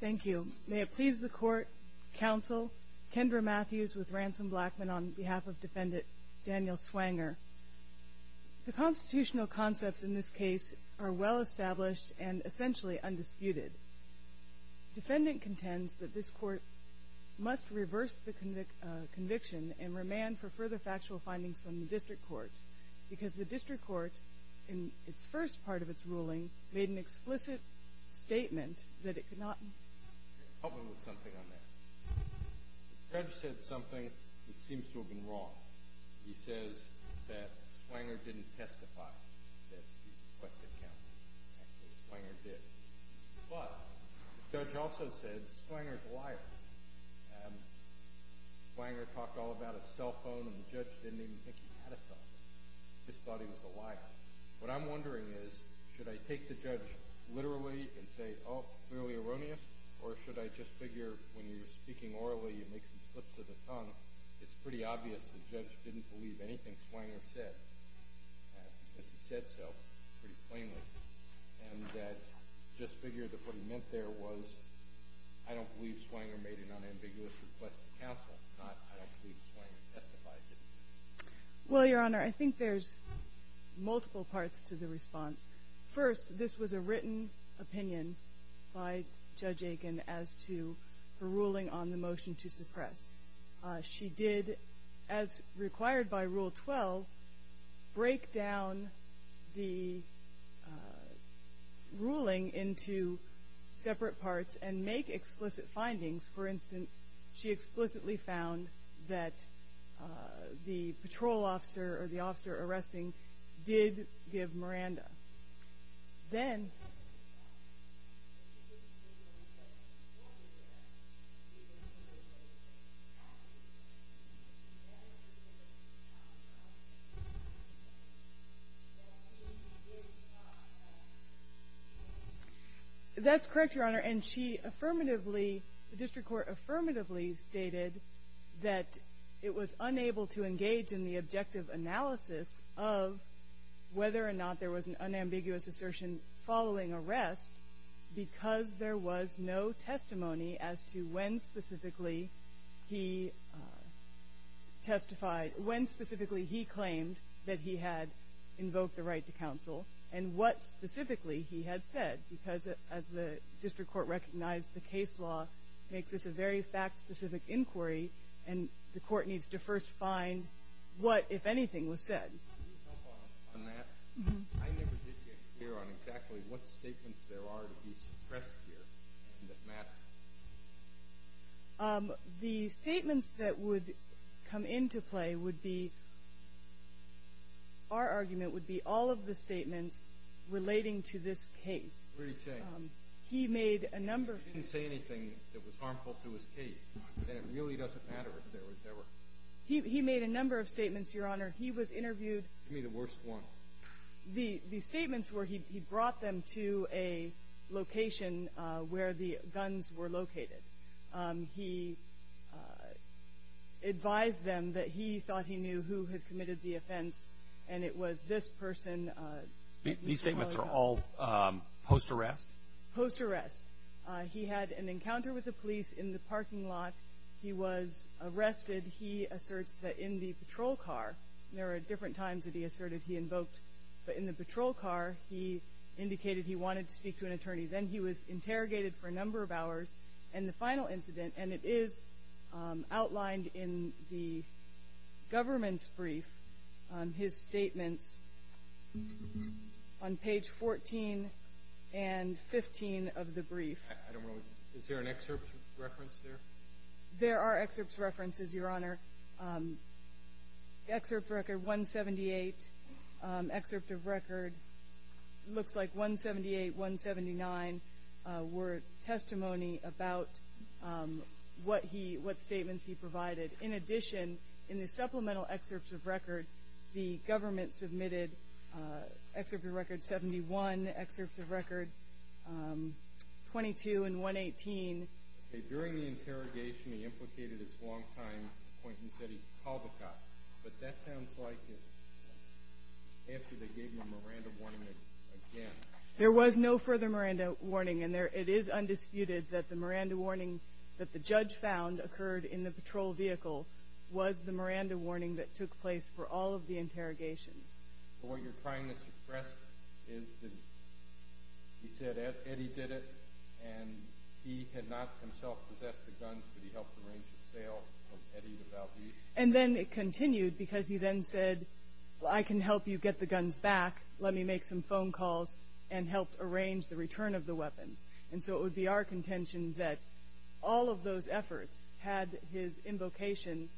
Thank you. May it please the Court, Counsel, Kendra Matthews with Ransom Blackman on behalf of Defendant Daniel Swanger. The constitutional concepts in this case are well established and essentially undisputed. Defendant contends that this Court must reverse the conviction and remand for further factual findings from the District Court because the District Court, in its first part of its ruling, made an explicit statement that it could not Help me with something on that. The judge said something that seems to have been wrong. He says that Swanger didn't testify that he requested counsel. Actually, Swanger did. But the judge also said Swanger's a liar. Swanger talked all about his cell phone, and the judge didn't even think he had a cell phone. He just thought he was a liar. What I'm wondering is, should I take the judge literally and say, oh, it's clearly erroneous, or should I just figure when you're speaking orally, you make some slips of the tongue? It's pretty obvious the judge didn't believe anything Swanger said, because he said so pretty plainly. And that just figured that what he meant there was, I don't believe Swanger made an unambiguous request to counsel, not I don't believe Swanger testified. Well, Your Honor, I think there's multiple parts to the response. First, this was a written opinion by Judge Aiken as to her ruling on the motion to suppress. She did, as required by Rule 12, break down the ruling into separate parts and make explicit findings. For instance, she explicitly found that the patrol officer or the officer arresting did give Miranda. Then… That's correct, Your Honor, and she affirmatively, the district court affirmatively stated that it was unable to engage in the objective analysis of whether or not there was an unambiguous assertion following arrest, because there was no testimony as to when specifically he testified, when specifically he claimed that he had invoked the right to counsel, and what specifically he had said. Because as the district court recognized, the case law makes this a very fact-specific inquiry, and the court needs to first find what, if anything, was said. Can you help on that? I never did get a clear on exactly what statements there are to be suppressed here that matter. The statements that would come into play would be – our argument would be all of the statements relating to this case. What are you saying? He made a number of them. He didn't say anything that was harmful to his case, and it really doesn't matter if there were. He made a number of statements, Your Honor. He was interviewed. Give me the worst one. The statements were he brought them to a location where the guns were located. He advised them that he thought he knew who had committed the offense, and it was this person. These statements are all post-arrest? Post-arrest. He had an encounter with the police in the parking lot. He was arrested. He asserts that in the patrol car – there are different times that he asserted he invoked, but in the patrol car he indicated he wanted to speak to an attorney. Then he was interrogated for a number of hours. And the final incident, and it is outlined in the government's brief, his statements on page 14 and 15 of the brief. I don't know. Is there an excerpt reference there? There are excerpts references, Your Honor. Excerpt record 178, excerpt of record – looks like 178, 179 were testimony about what statements he provided. In addition, in the supplemental excerpts of record, the government submitted excerpt of record 71, excerpts of record 22 and 118. Okay. During the interrogation, he implicated his long-time acquaintance, Eddie Kalbachoff, but that sounds like it's after they gave him a Miranda warning again. There was no further Miranda warning, and it is undisputed that the Miranda warning that the judge found occurred in the patrol vehicle was the Miranda warning that took place for all of the interrogations. But what you're trying to suppress is that he said Eddie did it, and he had not himself possessed the guns, but he helped arrange the sale of Eddie the Valdez. And then it continued because he then said, well, I can help you get the guns back, let me make some phone calls, and helped arrange the return of the weapons. And so it would be our contention that all of those efforts, had his invocation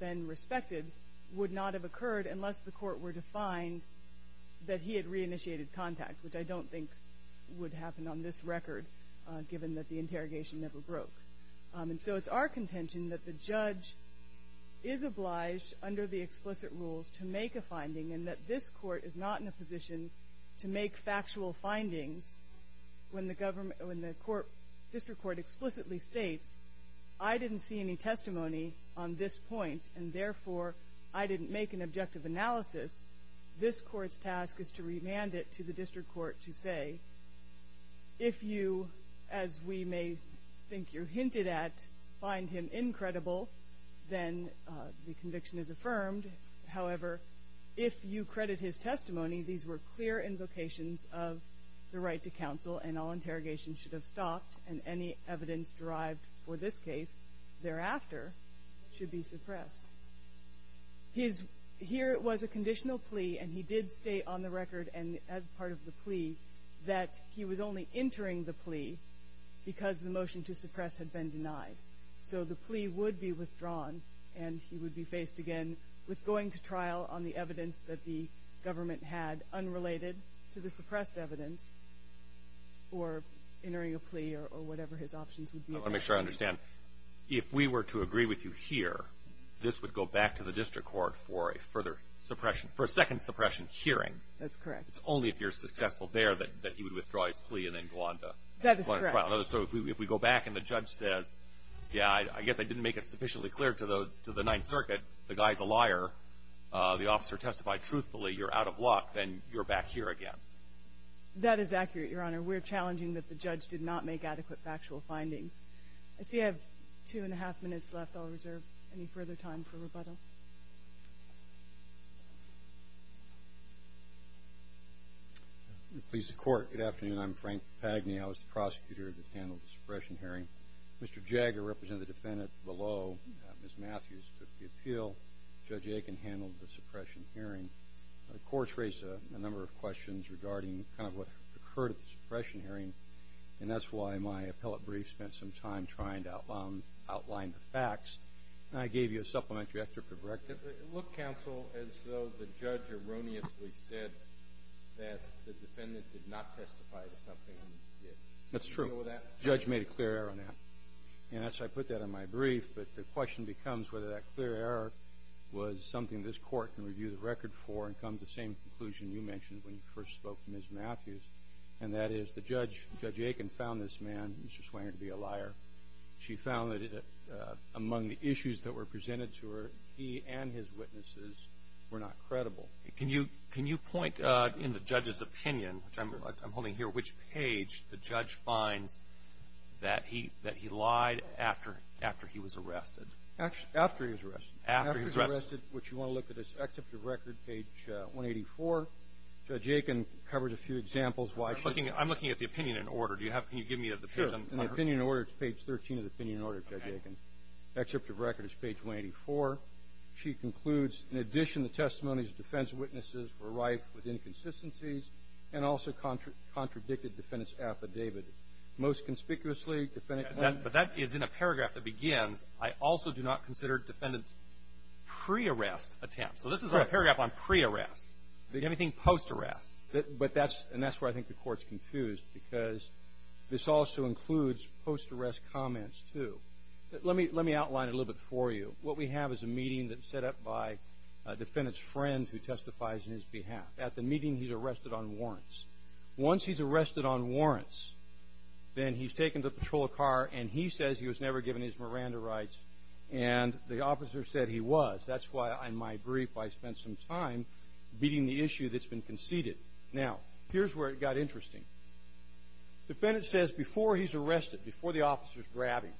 been respected, would not have occurred unless the court were to find that he had reinitiated contact, which I don't think would happen on this record, given that the interrogation never broke. And so it's our contention that the judge is obliged, under the explicit rules, to make a finding and that this court is not in a position to make factual findings when the district court explicitly states, I didn't see any testimony on this point and therefore I didn't make an objective analysis. This court's task is to remand it to the district court to say, if you, as we may think you're hinted at, find him incredible, then the conviction is affirmed. However, if you credit his testimony, these were clear invocations of the right to counsel and all interrogations should have stopped and any evidence derived for this case thereafter should be suppressed. Here it was a conditional plea and he did state on the record and as part of the plea that he was only entering the plea because the motion to suppress had been denied. So the plea would be withdrawn and he would be faced again with going to trial on the evidence that the government had unrelated to the suppressed evidence or entering a plea or whatever his options would be. I want to make sure I understand. If we were to agree with you here, this would go back to the district court for a further suppression, for a second suppression hearing. That's correct. It's only if you're successful there that he would withdraw his plea and then go on to trial. That is correct. So if we go back and the judge says, yeah, I guess I didn't make it sufficiently clear to the Ninth Circuit, the guy's a liar, the officer testified truthfully, you're out of luck, then you're back here again. That is accurate, Your Honor. We're challenging that the judge did not make adequate factual findings. I see I have two-and-a-half minutes left. I'll reserve any further time for rebuttal. Please, the Court. Good afternoon. I'm Frank Pagni. I was the prosecutor that handled the suppression hearing. Mr. Jagger represented the defendant below. Ms. Matthews took the appeal. Judge Aiken handled the suppression hearing. The Court raised a number of questions regarding kind of what occurred at the suppression hearing, and that's why my appellate brief spent some time trying to outline the facts. And I gave you a supplementary after corrective. It looked, counsel, as though the judge erroneously said that the defendant did not testify to something. That's true. The judge made a clear error on that. And that's why I put that on my brief. But the question becomes whether that clear error was something this Court can review the record for and come to the same conclusion you mentioned when you first spoke to Ms. Matthews, and that is the judge, Judge Aiken, found this man, Mr. Swanger, to be a liar. She found that among the issues that were presented to her, he and his witnesses were not credible. Can you point in the judge's opinion, which I'm holding here, which page the judge finds that he lied after he was arrested? After he was arrested. After he was arrested. After he was arrested, which you want to look at his excerpt of record, page 184. Judge Aiken covers a few examples why she was a liar. I'm looking at the opinion in order. Can you give me the page I'm looking at? Sure. In the opinion in order, it's page 13 of the opinion in order, Judge Aiken. Excerpt of record is page 184. She concludes, in addition, the testimonies of defense witnesses were rife with inconsistencies and also contradicted defendant's affidavit. Most conspicuously, defendant — But that is in a paragraph that begins, I also do not consider defendant's pre-arrest attempt. So this is a paragraph on pre-arrest. Do you have anything post-arrest? But that's — and that's where I think the Court's confused, because this also includes post-arrest comments, too. Let me — let me outline it a little bit for you. What we have is a meeting that's set up by a defendant's friend who testifies in his behalf. At the meeting, he's arrested on warrants. Once he's arrested on warrants, then he's taken to patrol a car, and he says he was never given his Miranda rights, and the officer said he was. That's why, in my brief, I spent some time beating the issue that's been conceded. Now, here's where it got interesting. Defendant says before he's arrested, before the officer's grabbing,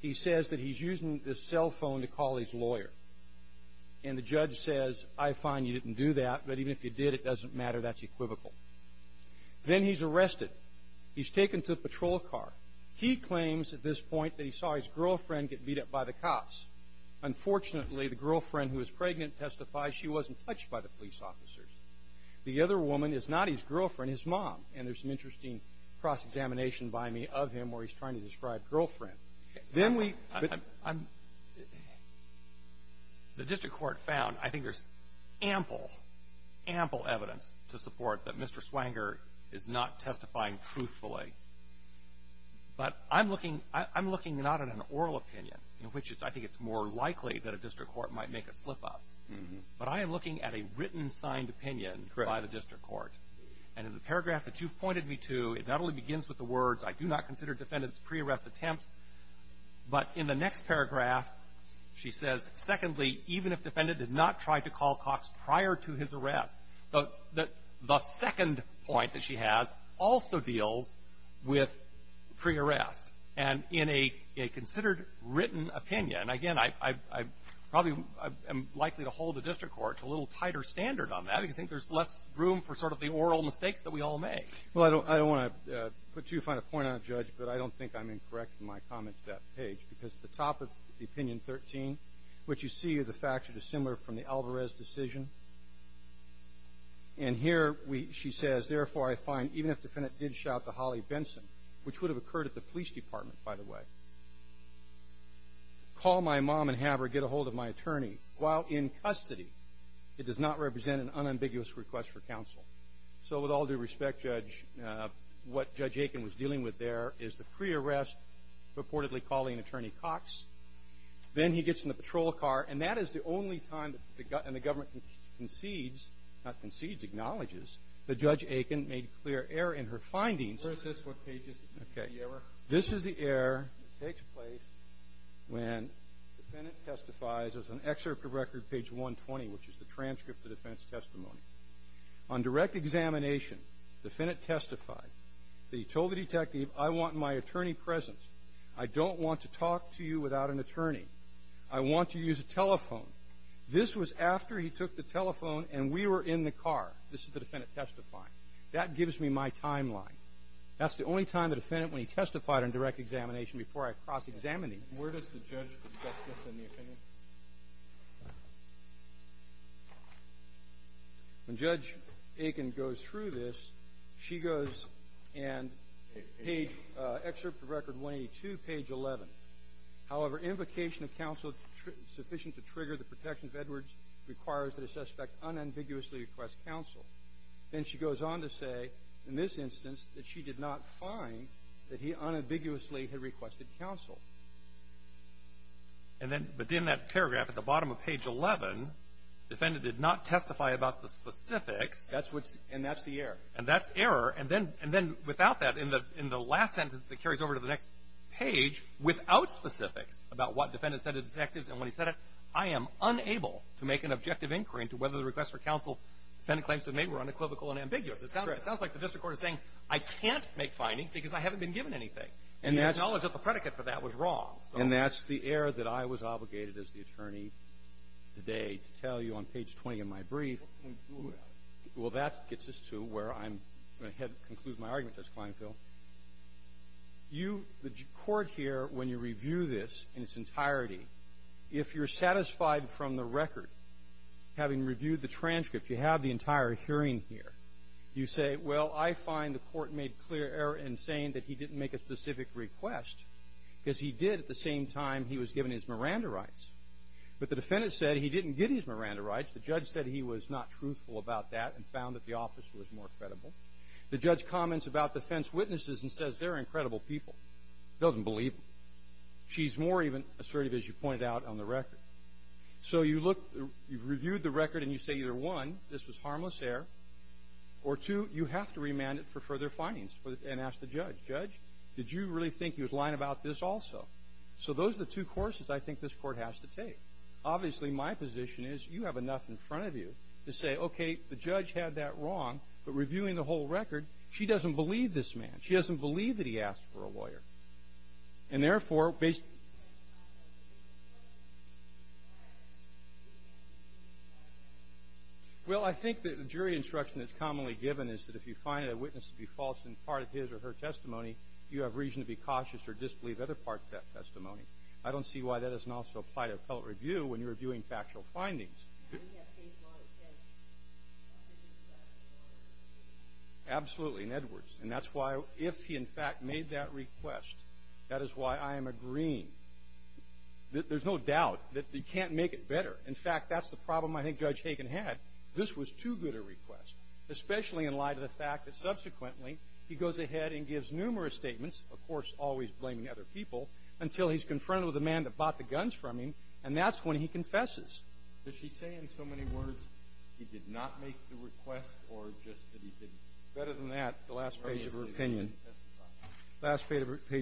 he says that he's using this cell phone to call his lawyer. And the judge says, I find you didn't do that, but even if you did, it doesn't matter. That's equivocal. Then he's arrested. He's taken to a patrol car. He claims at this point that he saw his girlfriend get beat up by the cops. Unfortunately, the girlfriend, who is pregnant, testifies she wasn't touched by the police officers. The other woman is not his girlfriend, his mom. And there's an interesting cross-examination by me of him where he's trying to describe girlfriend. Then we – I'm – the district court found, I think there's ample, ample evidence to support that Mr. Swanger is not testifying truthfully. But I'm looking – I'm looking not at an oral opinion, which is – I think it's more likely that a district court might make a slip-up. But I am looking at a written, signed opinion by the district court. And in the paragraph that you've pointed me to, it not only begins with the words, I do not consider defendants' pre-arrest attempts. But in the next paragraph, she says, secondly, even if defendant did not try to call Cox prior to his arrest, the second point that she has also deals with pre-arrest. And in a considered written opinion – again, I probably am likely to hold the district court to a little tighter standard on that, because I think there's less room for sort of the oral mistakes that we all make. Well, I don't – I don't want to put too fine a point on it, Judge, but I don't think I'm incorrect in my comment to that page. Because at the top of the Opinion 13, what you see are the facts that are similar from the Alvarez decision. And here we – she says, therefore, I find even if defendant did shout to Holly Benson, which would have occurred at the police department, by the way, call my mom and have her get a hold of my attorney while in custody. It does not represent an unambiguous request for counsel. So with all due respect, Judge, what Judge Aiken was dealing with there is the pre-arrest, reportedly calling Attorney Cox. Then he gets in the patrol car. And that is the only time that the – and the government concedes – not concedes, acknowledges that Judge Aiken made clear error in her findings. Where is this? What page is this? Okay. This is the error that takes place when defendant testifies. There's an excerpt of record, page 120, which is the transcript of defense testimony. On direct examination, defendant testified that he told the detective, I want my attorney present. I don't want to talk to you without an attorney. I want to use a telephone. This was after he took the telephone and we were in the car. This is the defendant testifying. That gives me my timeline. That's the only time the defendant, when he testified on direct examination before I cross-examined him. Where does the judge discuss this in the opinion? When Judge Aiken goes through this, she goes and page – excerpt of record 182, page 11. However, invocation of counsel sufficient to trigger the protection of Edwards requires that a suspect unambiguously request counsel. Then she goes on to say in this instance that she did not find that he unambiguously had requested counsel. And then within that paragraph at the bottom of page 11, defendant did not testify about the specifics. And that's the error. And that's error. And then without that, in the last sentence that carries over to the next page, without specifics about what defendant said to detectives and when he said it, I am unable to make an objective inquiry into whether the request for counsel defendant claims to have made were unequivocal and ambiguous. It sounds like the district court is saying I can't make findings because I haven't been given anything. And the knowledge of the predicate for that was wrong. And that's the error that I was obligated as the attorney today to tell you on page 20 of my brief. Well, that gets us to where I'm going to conclude my argument, Justice Klinefeld. You – the court here, when you review this in its entirety, if you're satisfied from the record, having reviewed the transcript, you have the entire hearing here, you say, well, I find the court made clear error in saying that he didn't make a specific request because he did at the same time he was given his Miranda rights. But the defendant said he didn't get his Miranda rights. The judge said he was not truthful about that and found that the office was more credible. The judge comments about defense witnesses and says they're incredible people. He doesn't believe them. She's more even assertive, as you pointed out, on the record. So you look – you've reviewed the record and you say either, one, this was harmless to the judge. Did you really think he was lying about this also? So those are the two courses I think this Court has to take. Obviously, my position is you have enough in front of you to say, okay, the judge had that wrong, but reviewing the whole record, she doesn't believe this man. She doesn't believe that he asked for a lawyer. And therefore, based – Well, I think that the jury instruction that's commonly given is that if you find a witness to be false in part of his or her testimony, you have reason to be cautious or disbelieve other parts of that testimony. I don't see why that doesn't also apply to appellate review when you're reviewing factual findings. Absolutely, in Edwards. And that's why if he, in fact, made that request, that is why I am agreeing. There's no doubt that you can't make it better. In fact, that's the problem I think Judge Hagen had. This was too good a request, especially in light of the fact that subsequently he goes ahead and gives numerous statements, of course, always blaming other people, until he's confronted with a man that bought the guns from him. And that's when he confesses. Did she say in so many words he did not make the request or just that he didn't? Better than that, the last page of her opinion. The last page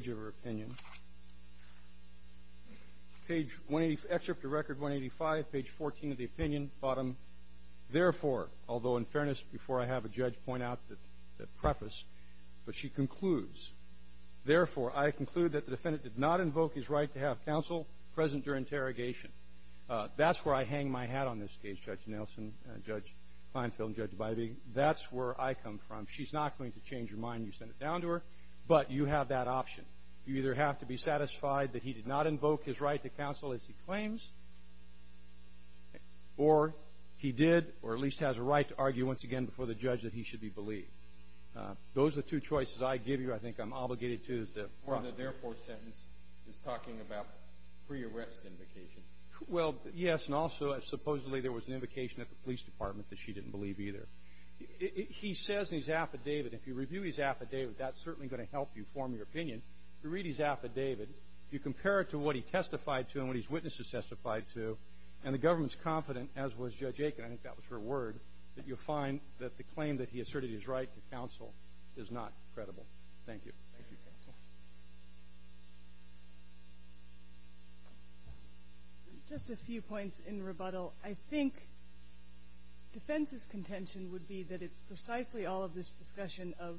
of her opinion. Page 185, excerpt of record 185, page 14 of the opinion, bottom. Therefore, although in fairness, before I have a judge point out the preface, but she concludes. Therefore, I conclude that the defendant did not invoke his right to have counsel present during interrogation. That's where I hang my hat on this case, Judge Nelson, Judge Kleinfeld, and Judge DeBiaby. That's where I come from. She's not going to change her mind. You send it down to her. But you have that option. You either have to be satisfied that he did not invoke his right to counsel as he claims, or he did, or at least has a right to argue once again before the judge that he should be believed. Those are the two choices I give you. I think I'm obligated to. The therefore sentence is talking about pre-arrest invocation. Well, yes, and also supposedly there was an invocation at the police department that she didn't believe either. He says in his affidavit, if you review his affidavit, that's certainly going to help you form your opinion. If you read his affidavit, you compare it to what he testified to and what his witnesses testified to, and the government's confident, as was Judge Aiken, I think that was her word, that you'll find that the claim that he asserted his right to counsel is not credible. Thank you. Thank you, counsel. Just a few points in rebuttal. I think defense's contention would be that it's precisely all of this discussion of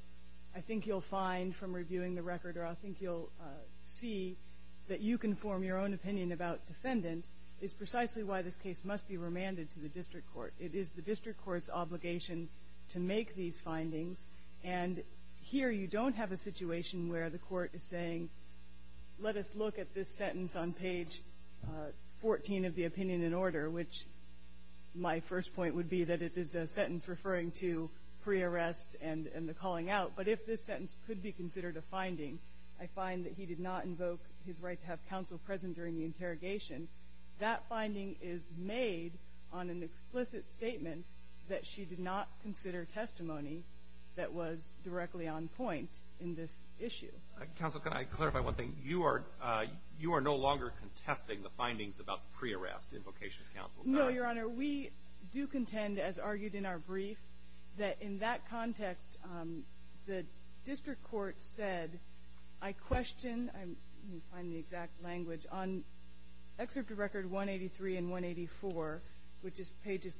I think you'll find from reviewing the record or I think you'll see that you can form your own opinion about defendant is precisely why this case must be remanded to the district court. It is the district court's obligation to make these findings, and here you don't have a situation where the court is saying let us look at this sentence on page 14 of the opinion in order, which my first point would be that it is a sentence referring to pre-arrest and the calling out. But if this sentence could be considered a finding, I find that he did not invoke his right to have counsel present during the interrogation. That finding is made on an explicit statement that she did not consider testimony that was directly on point in this issue. Counsel, can I clarify one thing? You are no longer contesting the findings about pre-arrest invocation of counsel. No, Your Honor. We do contend, as argued in our brief, that in that context the district court said I question, let me find the exact language, on Excerpt to Record 183 and 184, which is pages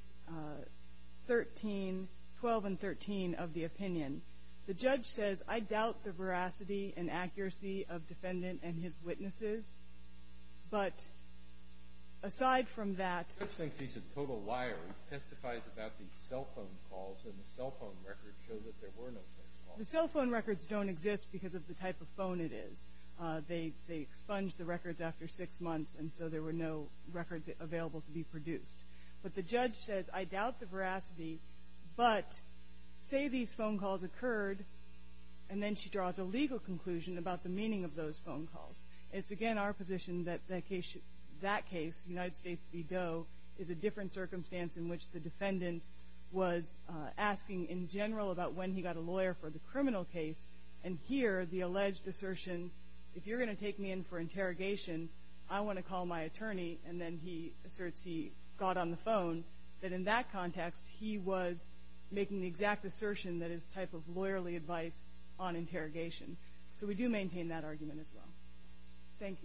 13, 12 and 13 of the opinion. The judge says I doubt the veracity and accuracy of defendant and his witnesses, but aside from that ---- The judge thinks he's a total liar. He testifies about these cell phone calls, and the cell phone records show that there were no such calls. The cell phone records don't exist because of the type of phone it is. They expunged the records after six months, and so there were no records available to be produced. But the judge says I doubt the veracity, but say these phone calls occurred, and then she draws a legal conclusion about the meaning of those phone calls. It's, again, our position that that case, United States v. Doe, is a different circumstance in which the defendant was asking in general about when he got a lawyer for the criminal case, and here the alleged assertion, if you're going to take me in for interrogation, I want to call my attorney, and then he asserts he got on the phone, that in that context he was making the exact assertion that is type of lawyerly advice on interrogation. So we do maintain that argument as well. Thank you.